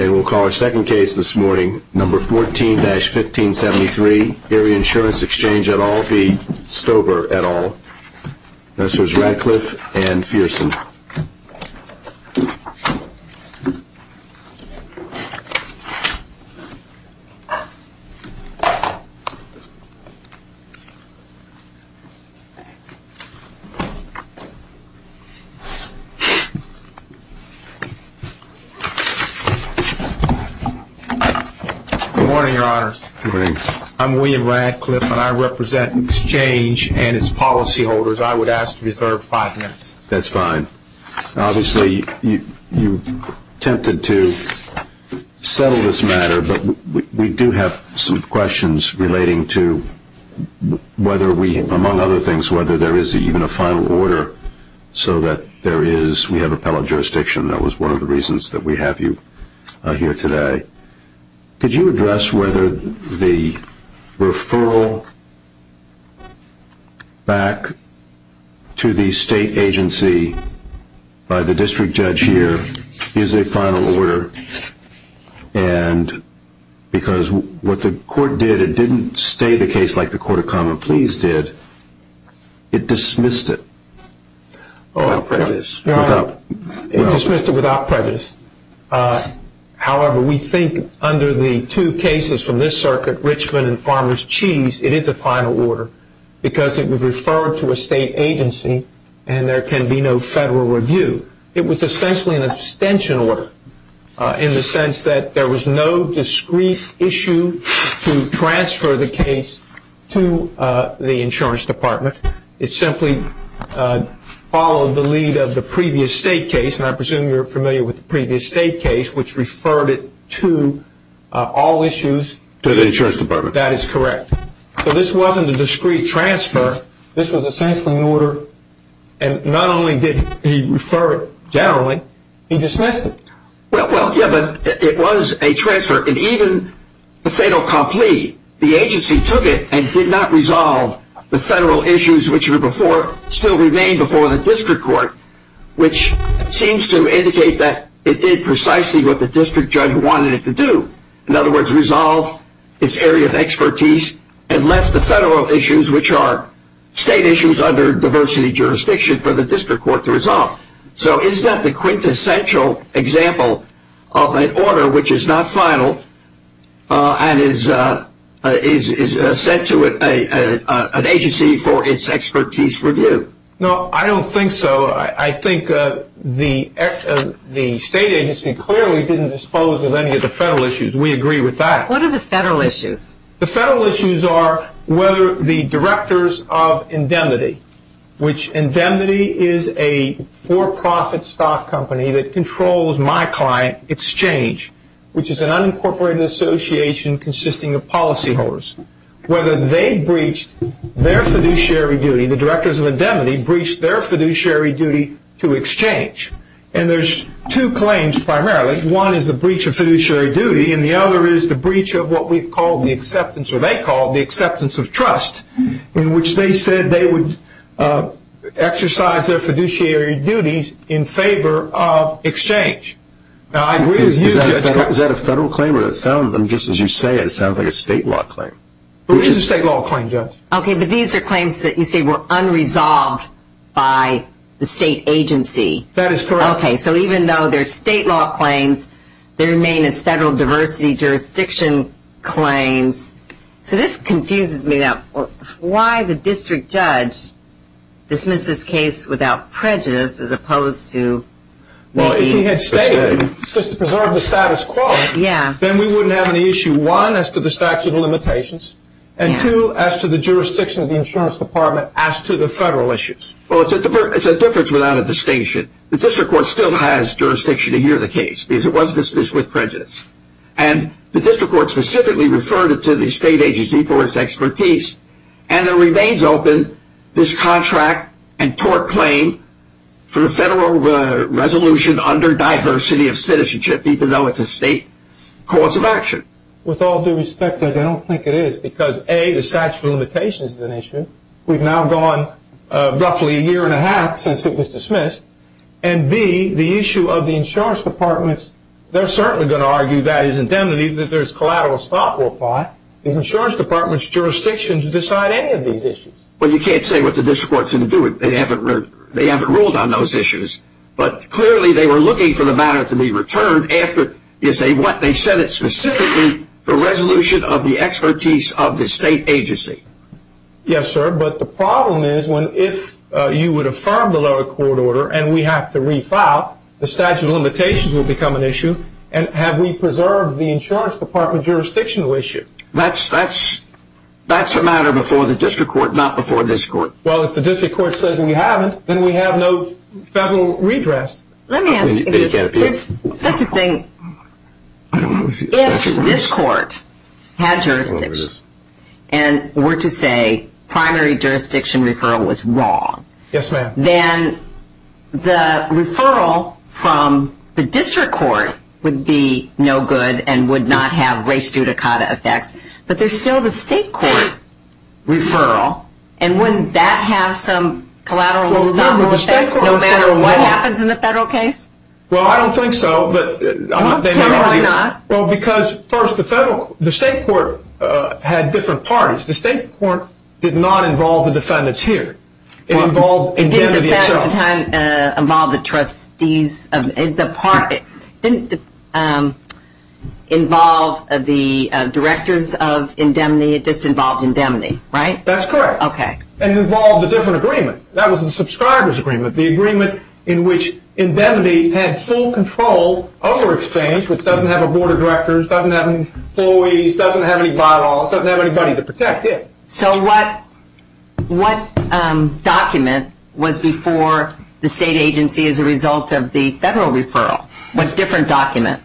And we'll call our second case this morning, number 14-1573, Erie Insurance Exchange et al v. Stover et al. Nurses Radcliffe and Fierson. William Radcliffe Good morning, Your Honors. William Radcliffe Good morning. William Radcliffe I'm William Radcliffe and I represent Exchange and its policyholders. I would ask to reserve five minutes. William Radcliffe That's fine. Obviously you attempted to settle this matter, but we do have some questions relating to whether we, among other things, whether there is even a final order so that there is, we have appellate jurisdiction. That was one of the reasons that we have you here today. Could you address whether the referral back to the state agency by the district judge here is a final order? And because what the court did, it didn't stay the case like the Court of Common Pleas did. It dismissed it. It dismissed it without prejudice. However, we think under the two cases from this circuit, Richmond and Farmer's Cheese, it is a final order because it was referred to a state agency and there can be no federal review. It was essentially an abstention order in the sense that there was no discrete issue to transfer the case to the insurance department. It simply followed the lead of the previous state case, and I presume you're familiar with the previous state case, which referred it to all issues to the insurance department. That is correct. So this wasn't a discrete transfer. This was essentially an order, and not only did he refer it generally, he dismissed it. Well, yeah, but it was a transfer, and even the fatal complete, the agency took it and did not resolve the federal issues which still remained before the district court, which seems to indicate that it did precisely what the district judge wanted it to do. In other words, resolve its area of expertise and left the federal issues, which are state issues under diversity jurisdiction for the district court to resolve. So is that the quintessential example of an order which is not final and is sent to an agency for its expertise review? No, I don't think so. I think the state agency clearly didn't dispose of any of the federal issues. We agree with that. What are the federal issues? The federal issues are whether the directors of indemnity, which indemnity is a for-profit stock company that controls my client exchange, which is an unincorporated association consisting of policyholders, whether they breached their fiduciary duty, the directors of indemnity breached their fiduciary duty to exchange. And there's two claims primarily. One is a breach of fiduciary duty, and the other is the breach of what we've called the acceptance, or they call the acceptance of trust, in which they said they would exercise their fiduciary duties in favor of exchange. Now, I agree with you. Is that a federal claim or does it sound, just as you say it, it sounds like a state law claim? It is a state law claim, Judge. Okay, but these are claims that you say were unresolved by the state agency. That is correct. Okay, so even though they're state law claims, they remain as federal diversity jurisdiction claims. So this confuses me now. Why the district judge dismissed this case without prejudice as opposed to maybe? Well, if he had stated just to preserve the status quo, then we wouldn't have an issue, one, as to the statute of limitations, and two, as to the jurisdiction of the insurance department as to the federal issues. Well, it's a difference without a distinction. The district court still has jurisdiction to hear the case, because it was dismissed with prejudice. And the district court specifically referred it to the state agency for its expertise, and it remains open, this contract and tort claim, for the federal resolution under diversity of citizenship, even though it's a state cause of action. With all due respect, Judge, I don't think it is because, A, the statute of limitations is an issue. We've now gone roughly a year and a half since it was dismissed. And, B, the issue of the insurance department, they're certainly going to argue that is indemnity, that there's collateral stock worldwide. The insurance department's jurisdiction to decide any of these issues. Well, you can't say what the district court's going to do. They haven't ruled on those issues. But clearly they were looking for the matter to be returned after, they said it specifically for resolution of the expertise of the state agency. Yes, sir. But the problem is when if you would affirm the lower court order and we have to refile, the statute of limitations will become an issue. And have we preserved the insurance department jurisdictional issue? That's a matter before the district court, not before this court. Well, if the district court says we haven't, then we have no federal redress. Let me ask you this. There's such a thing. If this court had jurisdiction and were to say primary jurisdiction referral was wrong. Yes, ma'am. Then the referral from the district court would be no good and would not have race judicata effects. But there's still the state court referral, and wouldn't that have some collateral effects no matter what happens in the federal case? Well, I don't think so. Tell me why not. Well, because first the state court had different parties. The state court did not involve the defendants here. It involved indemnity itself. It didn't at the time involve the trustees. It didn't involve the directors of indemnity. It just involved indemnity, right? That's correct. Okay. And it involved a different agreement. That was the subscriber's agreement, the agreement in which indemnity had full control over exchange which doesn't have a board of directors, doesn't have employees, doesn't have any bylaws, doesn't have anybody to protect it. So what document was before the state agency as a result of the federal referral? What different document?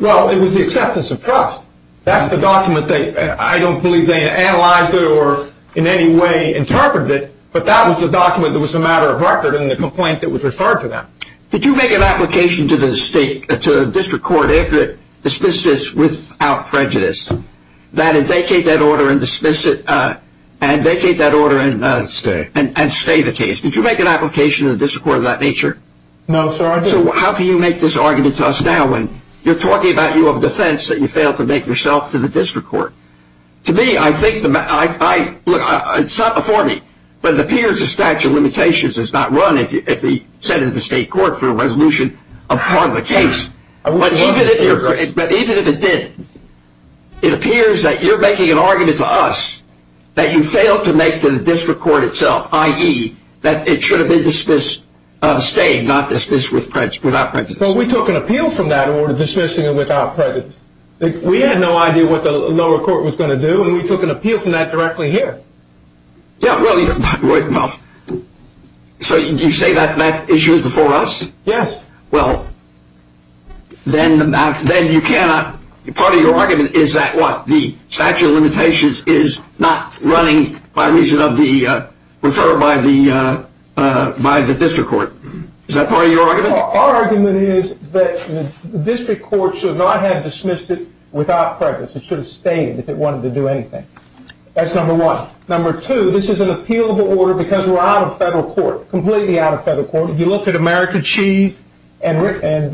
Well, it was the acceptance of trust. That's the document. I don't believe they analyzed it or in any way interpreted it, but that was the document that was a matter of record and the complaint that was referred to them. Did you make an application to the district court after it dismissed this without prejudice that it vacate that order and dismiss it and vacate that order and stay the case? Did you make an application to the district court of that nature? No, sir. So how can you make this argument to us now when you're talking about you have a defense that you failed to make yourself to the district court? To me, it's not before me, but it appears the statute of limitations is not run if you send it to the state court for a resolution of part of the case. But even if it did, it appears that you're making an argument to us that you failed to make to the district court itself, i.e., that it should have been dismissed staying, not dismissed without prejudice. Well, we took an appeal from that order dismissing it without prejudice. We had no idea what the lower court was going to do, and we took an appeal from that directly here. Yeah, well, so you say that issue is before us? Yes. Well, then part of your argument is that what? The statute of limitations is not running by reason of the refer by the district court. Is that part of your argument? Our argument is that the district court should not have dismissed it without prejudice. It should have stayed if it wanted to do anything. That's number one. Number two, this is an appealable order because we're out of federal court, completely out of federal court. If you look at America Cheese and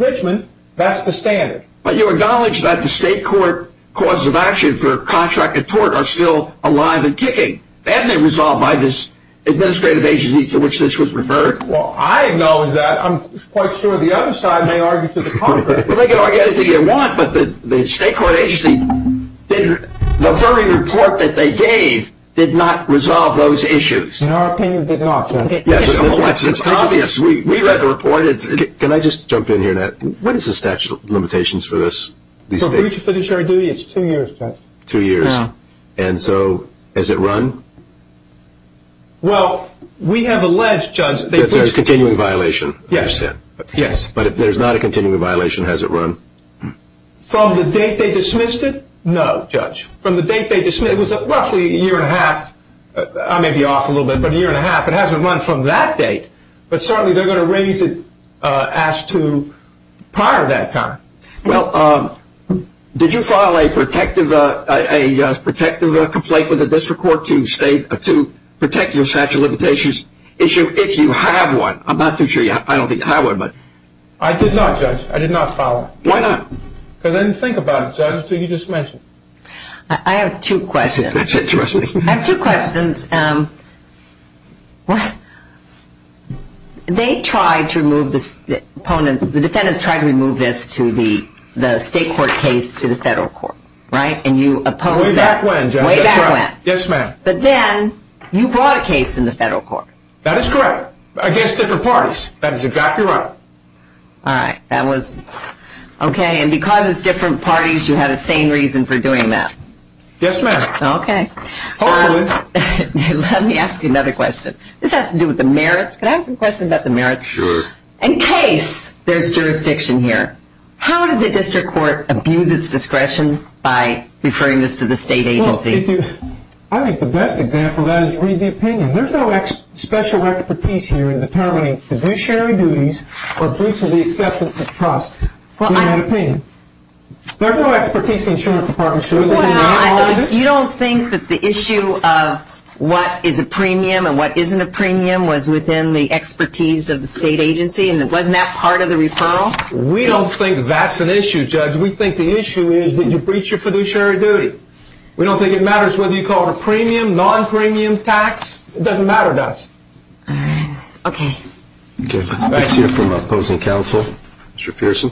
Richmond, that's the standard. But you acknowledge that the state court causes of action for contract and tort are still alive and kicking. That may resolve by this administrative agency to which this was referred. Well, I acknowledge that. I'm quite sure the other side may argue to the contrary. Well, they can argue anything they want, but the state court agency, the very report that they gave did not resolve those issues. In our opinion, it did not, Judge. Yes, it's obvious. We read the report. Can I just jump in here, Nat? What is the statute of limitations for this? For breach of fiduciary duty, it's two years, Judge. Two years. Yeah. And so has it run? Well, we have alleged, Judge. That there's a continuing violation. Yes. I understand. Yes. But if there's not a continuing violation, has it run? From the date they dismissed it? No, Judge. From the date they dismissed it, it was roughly a year and a half. I may be off a little bit, but a year and a half. It hasn't run from that date. But certainly they're going to raise it as to prior to that time. Well, did you file a protective complaint with the district court to protect your statute of limitations issue if you have one? I'm not too sure. I don't think I would, but. I did not, Judge. I did not file one. Why not? Because I didn't think about it, Judge. You just mentioned it. I have two questions. That's interesting. I have two questions. They tried to remove the opponents. The defendants tried to remove this to the state court case to the federal court, right? And you opposed that. Way back when, Judge. Way back when. Yes, ma'am. But then you brought a case in the federal court. That is correct. Against different parties. That is exactly right. All right. That was. Okay. And because it's different parties, you had a sane reason for doing that. Yes, ma'am. Okay. Hopefully. Let me ask you another question. This has to do with the merits. Can I ask a question about the merits? Sure. In case there's jurisdiction here, how did the district court abuse its discretion by referring this to the state agency? I think the best example of that is read the opinion. There's no special expertise here in determining fiduciary duties or breach of the acceptance of trust. Read the opinion. There's no expertise in the insurance department. You don't think that the issue of what is a premium and what isn't a premium was within the expertise of the state agency and wasn't that part of the referral? We don't think that's an issue, Judge. We think the issue is did you breach your fiduciary duty. We don't think it matters whether you call it a premium, non-premium tax. It doesn't matter to us. All right. Okay. Okay. Let's hear from opposing counsel. Mr. Fierson.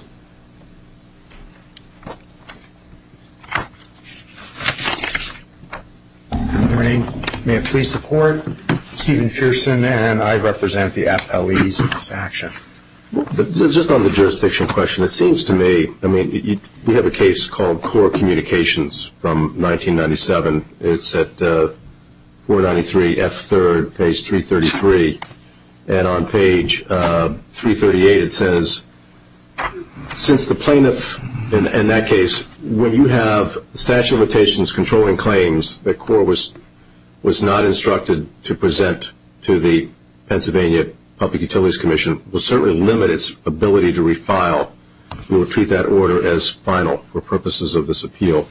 Good morning. May it please the court, Stephen Fierson, and I represent the FLEs in this action. Just on the jurisdiction question, it seems to me, I mean, we have a case called CORE Communications from 1997. It's at 493 F3rd, page 333. And on page 338 it says, since the plaintiff in that case, when you have a statute of limitations controlling claims that CORE was not instructed to present to the Pennsylvania Public Utilities Commission will certainly limit its ability to refile. We will treat that order as final for purposes of this appeal.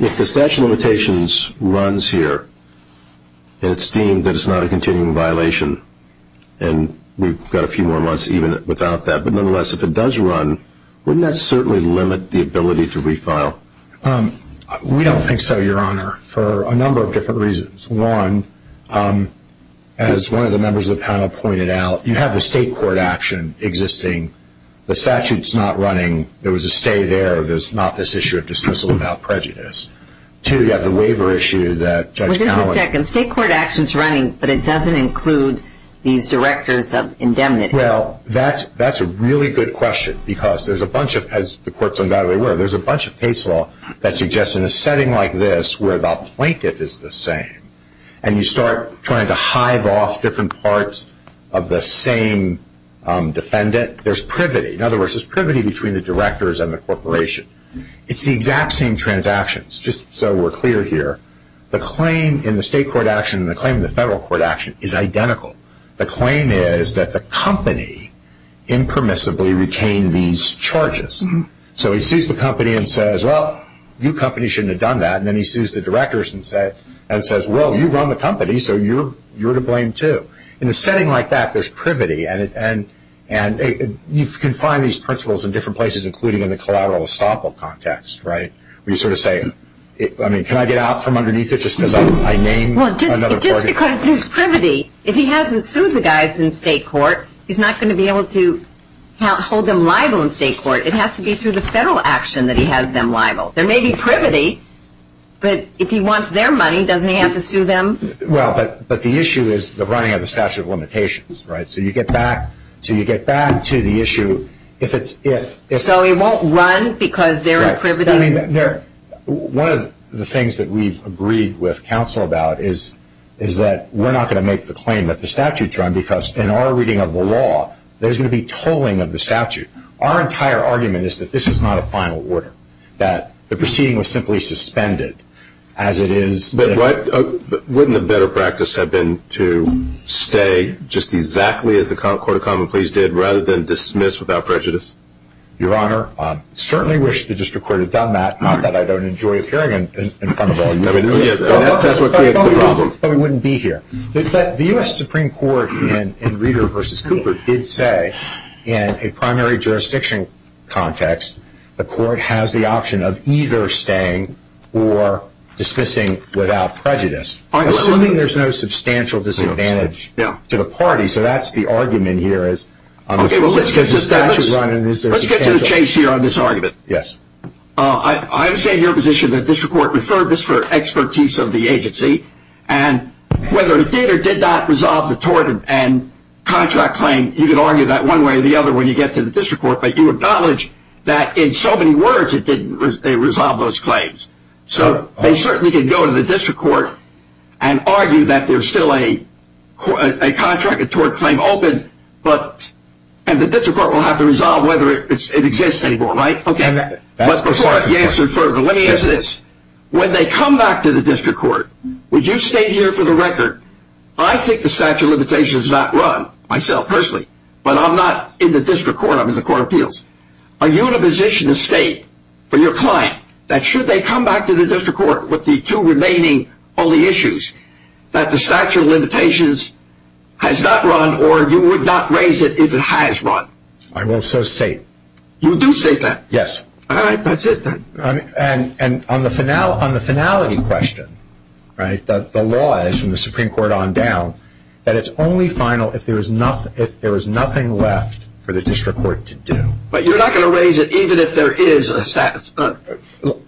If the statute of limitations runs here and it's deemed that it's not a continuing violation, and we've got a few more months even without that, but nonetheless, if it does run, wouldn't that certainly limit the ability to refile? We don't think so, Your Honor, for a number of different reasons. One, as one of the members of the panel pointed out, you have the state court action existing. The statute's not running. There was a stay there. There's not this issue of dismissal without prejudice. Two, you have the waiver issue that Judge Cowley- Wait just a second. State court action's running, but it doesn't include these directors of indemnity. Well, that's a really good question because there's a bunch of, as the courts undoubtedly were, there's a bunch of case law that suggests in a setting like this where the plaintiff is the same and you start trying to hive off different parts of the same defendant, there's privity. In other words, there's privity between the directors and the corporation. It's the exact same transactions, just so we're clear here. The claim in the state court action and the claim in the federal court action is identical. The claim is that the company impermissibly retained these charges. So he sues the company and says, well, you companies shouldn't have done that, and then he sues the directors and says, well, you run the company, so you're to blame too. In a setting like that, there's privity, and you can find these principles in different places including in the collateral estoppel context, right, where you sort of say, I mean, can I get out from underneath it just because I named another person? Well, just because there's privity, if he hasn't sued the guys in state court, he's not going to be able to hold them liable in state court. It has to be through the federal action that he has them liable. There may be privity, but if he wants their money, doesn't he have to sue them? Well, but the issue is the running of the statute of limitations, right? So you get back to the issue if it's if. So he won't run because there are privity. One of the things that we've agreed with counsel about is that we're not going to make the claim that the statute's run because in our reading of the law, there's going to be tolling of the statute. Our entire argument is that this is not a final order, that the proceeding was simply suspended as it is. But wouldn't a better practice have been to stay just exactly as the Court of Common Pleas did rather than dismiss without prejudice? Your Honor, I certainly wish the district court had done that, not that I don't enjoy appearing in front of all you. I mean, that's what creates the problem. But the U.S. Supreme Court in Reeder v. Cooper did say in a primary jurisdiction context, the court has the option of either staying or dismissing without prejudice, assuming there's no substantial disadvantage to the party. So that's the argument here. Let's get to the chase here on this argument. Yes. I understand your position that district court referred this for expertise of the agency, and whether or not Reeder did not resolve the tort and contract claim, you can argue that one way or the other when you get to the district court, but you acknowledge that in so many words it didn't resolve those claims. So they certainly can go to the district court and argue that there's still a contract and tort claim open, and the district court will have to resolve whether it exists anymore, right? Okay. Before I answer further, let me ask this. When they come back to the district court, would you state here for the record, I think the statute of limitations is not run, myself personally, but I'm not in the district court. I'm in the court of appeals. Are you in a position to state for your client that should they come back to the district court with the two remaining only issues, that the statute of limitations has not run or you would not raise it if it has run? I will so state. You do state that? Yes. All right. That's it then. And on the finality question, right, the law is from the Supreme Court on down, that it's only final if there is nothing left for the district court to do. But you're not going to raise it even if there is a statute?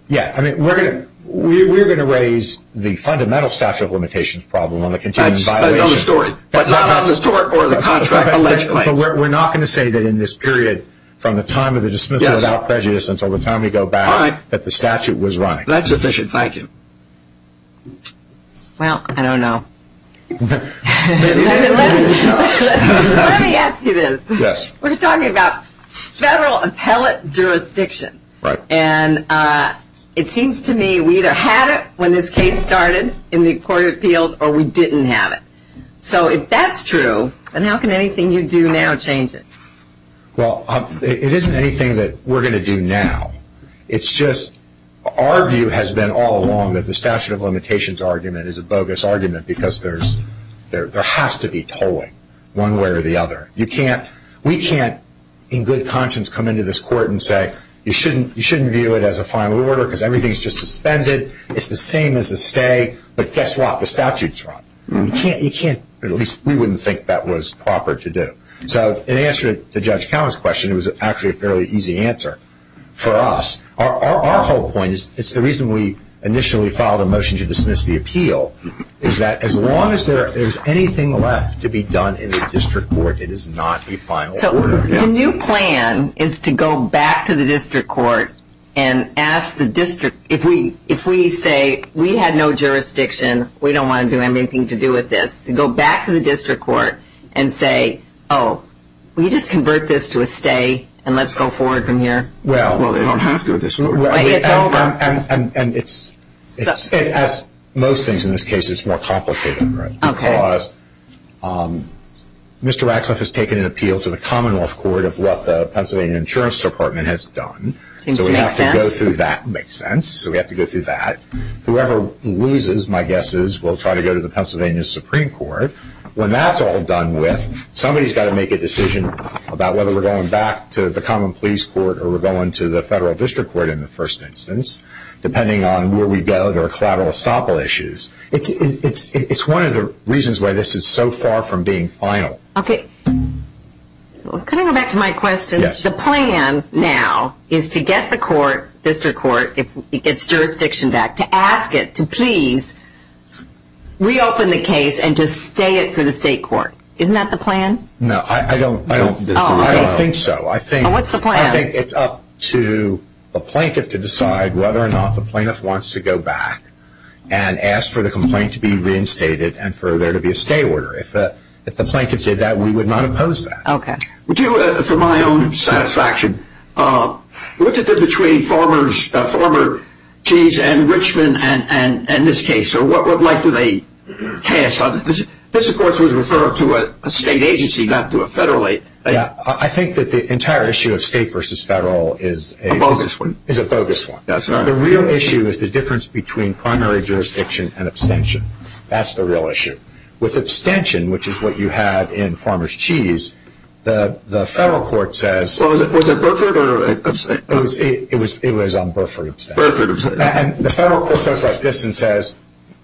Yeah. I mean, we're going to raise the fundamental statute of limitations problem on the continuing violation. That's another story. But not on the tort or the contract alleged claims. But we're not going to say that in this period from the time of the dismissal without prejudice until the time we go back that the statute was running. That's sufficient. Thank you. Well, I don't know. Let me ask you this. Yes. We're talking about federal appellate jurisdiction. Right. And it seems to me we either had it when this case started in the court of appeals or we didn't have it. So if that's true, then how can anything you do now change it? Well, it isn't anything that we're going to do now. It's just our view has been all along that the statute of limitations argument is a bogus argument because there has to be tolling one way or the other. We can't in good conscience come into this court and say you shouldn't view it as a final order because everything is just suspended. It's the same as the stay. But guess what? The statute is wrong. You can't, at least we wouldn't think that was proper to do. So in answer to Judge Cowan's question, it was actually a fairly easy answer for us. Our whole point is it's the reason we initially filed a motion to dismiss the appeal, is that as long as there is anything left to be done in the district court, it is not a final order. So the new plan is to go back to the district court and ask the district, if we say we had no jurisdiction, we don't want to do anything to do with this, to go back to the district court and say, oh, we just convert this to a stay and let's go forward from here. Well, they don't have to do this. It's over. And it's, as most things in this case, it's more complicated because Mr. Radcliffe has taken an appeal to the Commonwealth Court of what the Pennsylvania Insurance Department has done. It seems to make sense. So we have to go through that. It makes sense. So we have to go through that. Whoever loses, my guess is, will try to go to the Pennsylvania Supreme Court. When that's all done with, somebody's got to make a decision about whether we're going back to the common pleas court or we're going to the federal district court in the first instance, depending on where we go. There are collateral estoppel issues. It's one of the reasons why this is so far from being final. Okay. Can I go back to my question? Yes. The plan now is to get the court, district court, if it gets jurisdiction back, to ask it to please reopen the case and to stay it for the state court. Isn't that the plan? No. I don't think so. What's the plan? I think it's up to the plaintiff to decide whether or not the plaintiff wants to go back and ask for the complaint to be reinstated and for there to be a stay order. If the plaintiff did that, we would not oppose that. Okay. For my own satisfaction, what's it do between Farmer's Cheese and Richmond and this case, or what right do they cast on this? This, of course, was referred to a state agency, not to a federal agency. I think that the entire issue of state versus federal is a bogus one. The real issue is the difference between primary jurisdiction and abstention. That's the real issue. With abstention, which is what you had in Farmer's Cheese, the federal court says – Was it Burford or – It was on Burford abstention. Burford abstention. And the federal court goes like this and says,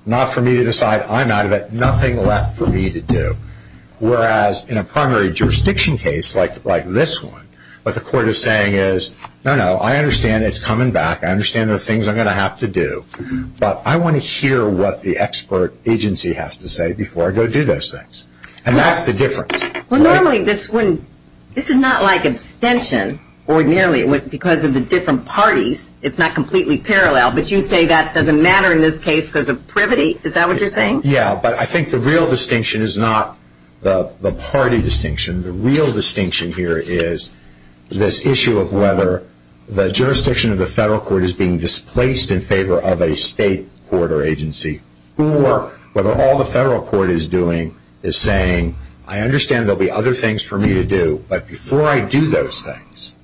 not for me to decide. I'm out of it. Nothing left for me to do. Whereas in a primary jurisdiction case like this one, what the court is saying is, no, no, I understand it's coming back. I understand there are things I'm going to have to do. But I want to hear what the expert agency has to say before I go do those things. And that's the difference. Well, normally this wouldn't – this is not like abstention ordinarily. Because of the different parties, it's not completely parallel. But you say that doesn't matter in this case because of privity. Is that what you're saying? Yeah, but I think the real distinction is not the party distinction. The real distinction here is this issue of whether the jurisdiction of the federal court is being displaced in favor of a state court or agency, or whether all the federal court is doing is saying, I understand there will be other things for me to do, but before I do those things,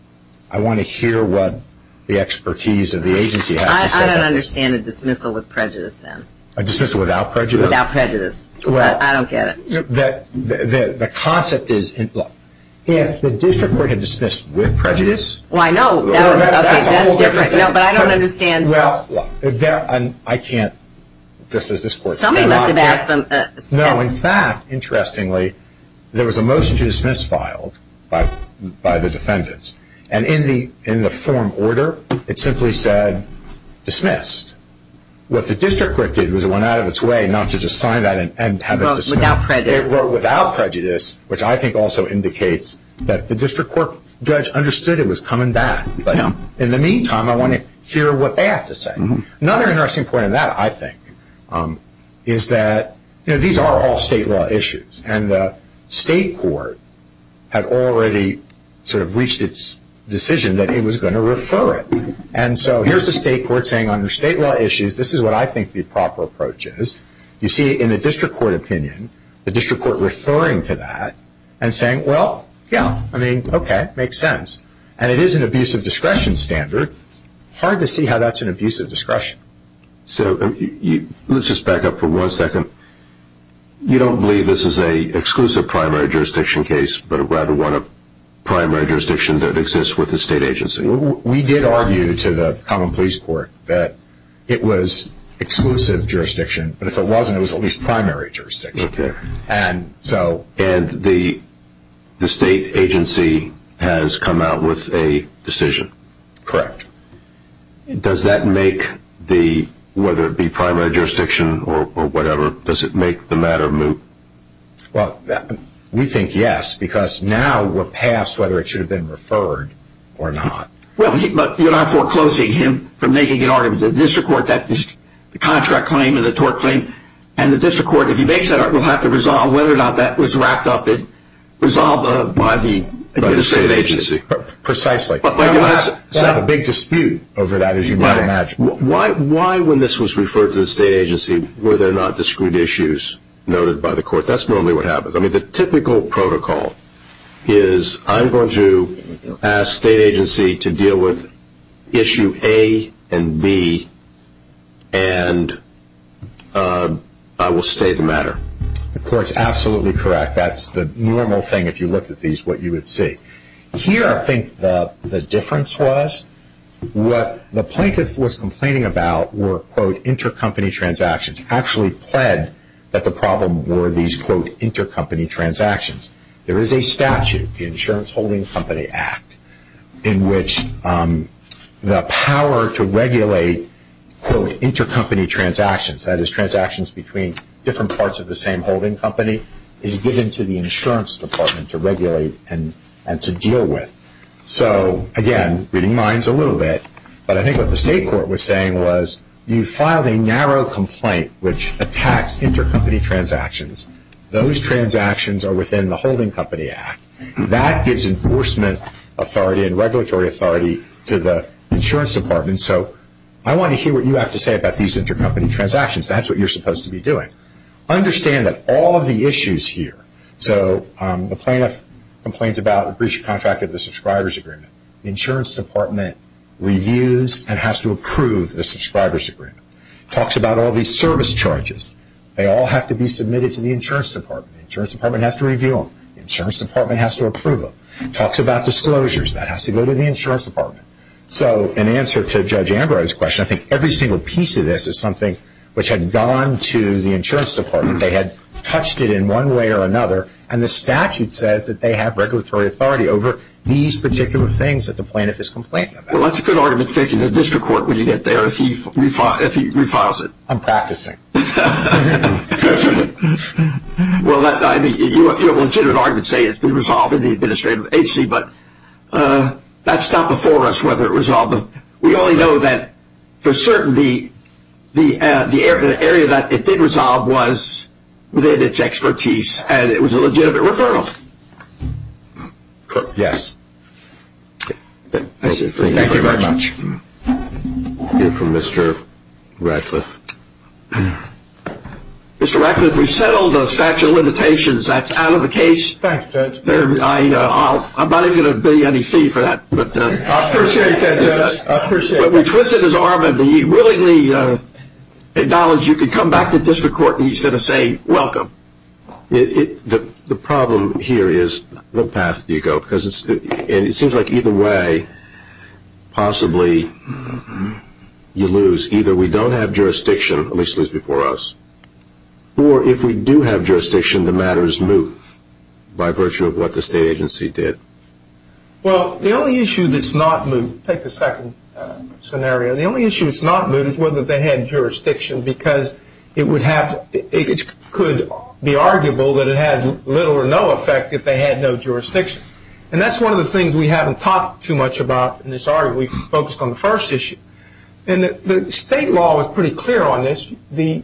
I want to hear what the expertise of the agency has to say. I don't understand a dismissal with prejudice, then. A dismissal without prejudice? Without prejudice. I don't get it. The concept is, if the district court had dismissed with prejudice – Well, I know. Okay, that's different. No, but I don't understand. Well, I can't. Somebody must have asked them. No, in fact, interestingly, there was a motion to dismiss filed by the defendants. And in the form order, it simply said, dismissed. What the district court did was it went out of its way not to just sign that and have it dismissed. Without prejudice. Without prejudice, which I think also indicates that the district court judge understood it was coming back, but in the meantime, I want to hear what they have to say. Another interesting point in that, I think, is that these are all state law issues, and the state court had already sort of reached its decision that it was going to refer it. And so here's the state court saying, under state law issues, this is what I think the proper approach is. You see in the district court opinion, the district court referring to that and saying, well, yeah, I mean, okay, makes sense. And it is an abuse of discretion standard. Hard to see how that's an abuse of discretion. So let's just back up for one second. You don't believe this is an exclusive primary jurisdiction case, but rather one of primary jurisdiction that exists with the state agency? We did argue to the common police court that it was exclusive jurisdiction, but if it wasn't, it was at least primary jurisdiction. Okay. And the state agency has come out with a decision? Correct. Does that make the, whether it be primary jurisdiction or whatever, does it make the matter moot? Well, we think yes, because now we're past whether it should have been referred or not. Well, but you're not foreclosing him from making an argument. The district court, the contract claim and the tort claim, and the district court, if he makes that argument, will have to resolve whether or not that was racked up and resolved by the state agency. Precisely. They have a big dispute over that, as you might imagine. Why, when this was referred to the state agency, were there not discreet issues noted by the court? That's normally what happens. I mean, the typical protocol is I'm going to ask state agency to deal with issue A and B and I will stay the matter. The court's absolutely correct. That's the normal thing, if you looked at these, what you would see. Here, I think the difference was what the plaintiff was complaining about were, quote, intercompany transactions actually pled that the problem were these, quote, intercompany transactions. There is a statute, the Insurance Holding Company Act, in which the power to regulate, quote, intercompany transactions, that is transactions between different parts of the same holding company, is given to the insurance department to regulate and to deal with. So, again, reading minds a little bit, but I think what the state court was saying was you filed a narrow complaint which attacks intercompany transactions. Those transactions are within the Holding Company Act. That gives enforcement authority and regulatory authority to the insurance department. So I want to hear what you have to say about these intercompany transactions. That's what you're supposed to be doing. Understand that all of the issues here, so the plaintiff complains about breach of contract of the subscribers agreement. The insurance department reviews and has to approve the subscribers agreement. Talks about all these service charges. They all have to be submitted to the insurance department. The insurance department has to review them. The insurance department has to approve them. Talks about disclosures. That has to go to the insurance department. So in answer to Judge Ambrose's question, I think every single piece of this is something which had gone to the insurance department. They had touched it in one way or another, and the statute says that they have regulatory authority over these particular things that the plaintiff is complaining about. Well, that's a good argument to take to the district court when you get there if he refiles it. I'm practicing. Well, you have a legitimate argument to say it's been resolved in the administrative agency, but that's not before us whether it was resolved. We only know that for certainty the area that it did resolve was within its expertise, and it was a legitimate referral. Yes. Thank you very much. We'll hear from Mr. Radcliffe. Mr. Radcliffe, we've settled the statute of limitations. That's out of the case. Thank you, Judge. I'm not even going to bill you any fee for that. I appreciate that, Judge. But we twisted his arm, and he willingly acknowledged you could come back to district court, and he's going to say welcome. The problem here is what path do you go? It seems like either way possibly you lose. Either we don't have jurisdiction, at least it was before us, or if we do have jurisdiction, the matter is moved by virtue of what the state agency did. Well, the only issue that's not moved, take the second scenario, the only issue that's not moved is whether they had jurisdiction because it could be arguable that it has little or no effect if they had no jurisdiction. And that's one of the things we haven't talked too much about in this article. We focused on the first issue. And the state law was pretty clear on this. The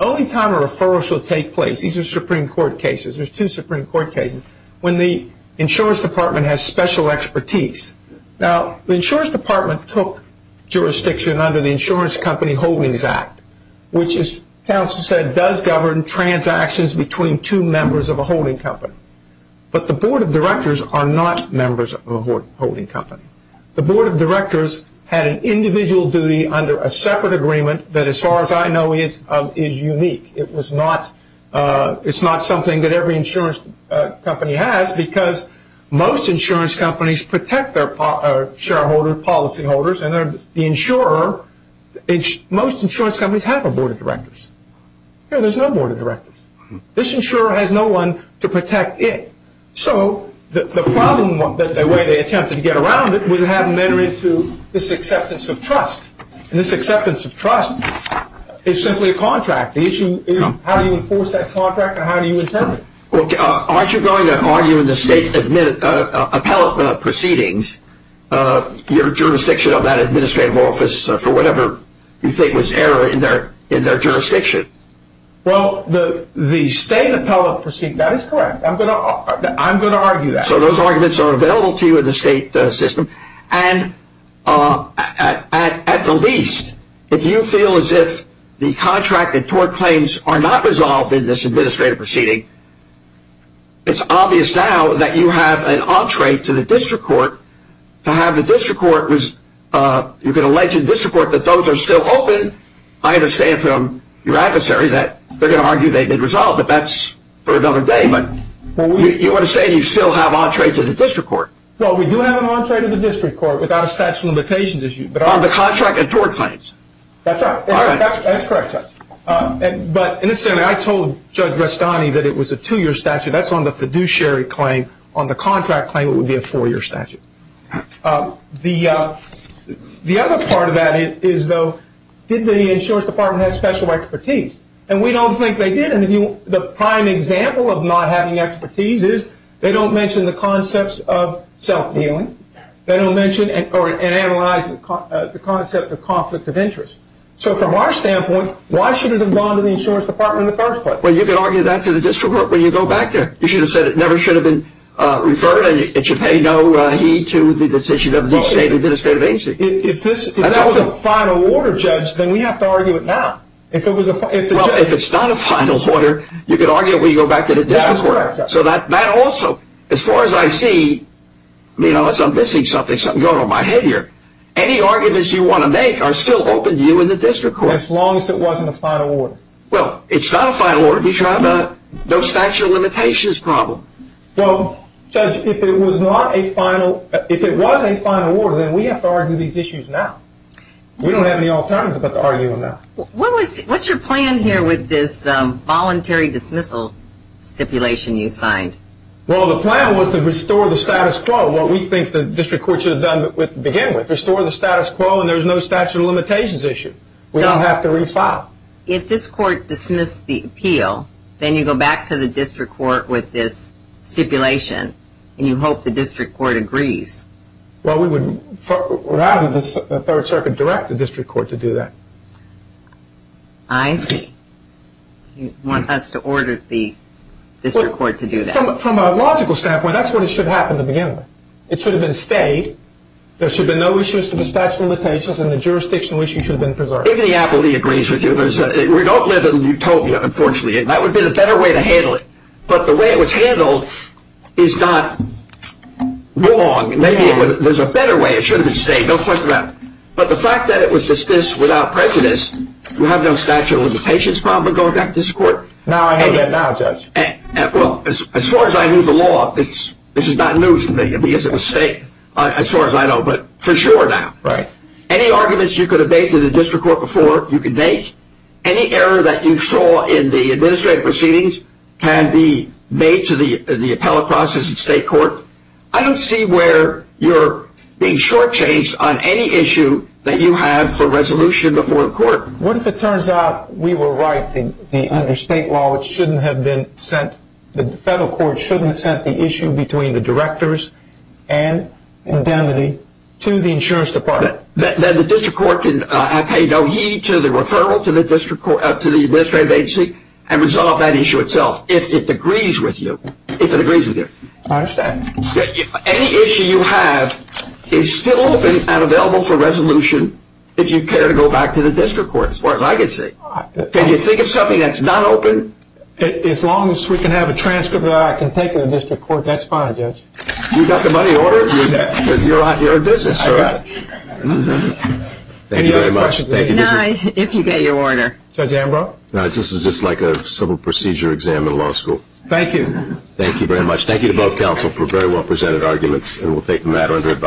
only time a referral should take place, these are Supreme Court cases, there's two Supreme Court cases, when the insurance department has special expertise. Now, the insurance department took jurisdiction under the Insurance Company Holdings Act, which as counsel said does govern transactions between two members of a holding company. But the board of directors are not members of a holding company. The board of directors had an individual duty under a separate agreement that as far as I know is unique. It's not something that every insurance company has because most insurance companies protect their shareholders, policy holders, and the insurer, most insurance companies have a board of directors. Here there's no board of directors. This insurer has no one to protect it. So the problem, the way they attempted to get around it, was to have them enter into this acceptance of trust. And this acceptance of trust is simply a contract. The issue is how do you enforce that contract and how do you intend it? Well, aren't you going to argue in the state appellate proceedings your jurisdiction of that administrative office for whatever you think was error in their jurisdiction? Well, the state appellate proceedings, that is correct. I'm going to argue that. So those arguments are available to you in the state system. And at the least, if you feel as if the contract and tort claims are not resolved in this administrative proceeding, it's obvious now that you have an entree to the district court. To have the district court, you can allege in district court that those are still open. I understand from your adversary that they're going to argue they've been resolved, but that's for another day. But you understand you still have entree to the district court. Well, we do have an entree to the district court without a statute of limitations issue. On the contract and tort claims. That's right. That's correct, Judge. But I told Judge Restani that it was a two-year statute. That's on the fiduciary claim. On the contract claim, it would be a four-year statute. The other part of that is, though, did the insurance department have special expertise? And we don't think they did. The prime example of not having expertise is they don't mention the concepts of self-dealing. They don't mention or analyze the concept of conflict of interest. So from our standpoint, why should it have gone to the insurance department in the first place? Well, you can argue that to the district court when you go back there. You should have said it never should have been referred, and it should pay no heed to the decision of the state administrative agency. If that was a final order, Judge, then we have to argue it now. Well, if it's not a final order, you could argue it when you go back to the district court. That's correct, Judge. So that also, as far as I see, unless I'm missing something, something's going on in my head here, any arguments you want to make are still open to you in the district court. As long as it wasn't a final order. Well, it's not a final order if you have a no statute of limitations problem. Well, Judge, if it was a final order, then we have to argue these issues now. We don't have any alternative but to argue them now. What's your plan here with this voluntary dismissal stipulation you signed? Well, the plan was to restore the status quo, what we think the district court should have done to begin with, restore the status quo and there's no statute of limitations issue. We don't have to refile. If this court dismissed the appeal, then you go back to the district court with this stipulation, and you hope the district court agrees. Well, we would rather the Third Circuit direct the district court to do that. I see. You want us to order the district court to do that. From a logical standpoint, that's what should have happened to begin with. It should have been stayed. There should have been no issues to the statute of limitations, and the jurisdictional issue should have been preserved. If the appellee agrees with you. We don't live in utopia, unfortunately, and that would be the better way to handle it. But the way it was handled is not wrong. Maybe there's a better way. It should have been stayed. Don't question that. But the fact that it was dismissed without prejudice, we have no statute of limitations problem going back to this court. Now I know that now, Judge. Well, as far as I knew the law, this is not news to me because it was stayed, as far as I know, but for sure now. Any arguments you could have made to the district court before, you can make. Any error that you saw in the administrative proceedings can be made to the appellate process at state court. I don't see where you're being shortchanged on any issue that you have for resolution before the court. What if it turns out we were right, that under state law, the federal court shouldn't have sent the issue between the directors and indemnity to the insurance department? Then the district court can pay no heed to the referral to the administrative agency and resolve that issue itself if it agrees with you. I understand. Any issue you have is still open and available for resolution if you care to go back to the district court, as far as I can see. Can you think of something that's not open? As long as we can have a transcript that I can take to the district court, that's fine, Judge. You got the money in order? You're in business, sir. Thank you very much. Any other questions? No, if you get your order. Judge Ambrose? This is just like a civil procedure exam in law school. Thank you. Thank you very much. Thank you to both counsel for very well presented arguments, and we'll take the matter under advisement.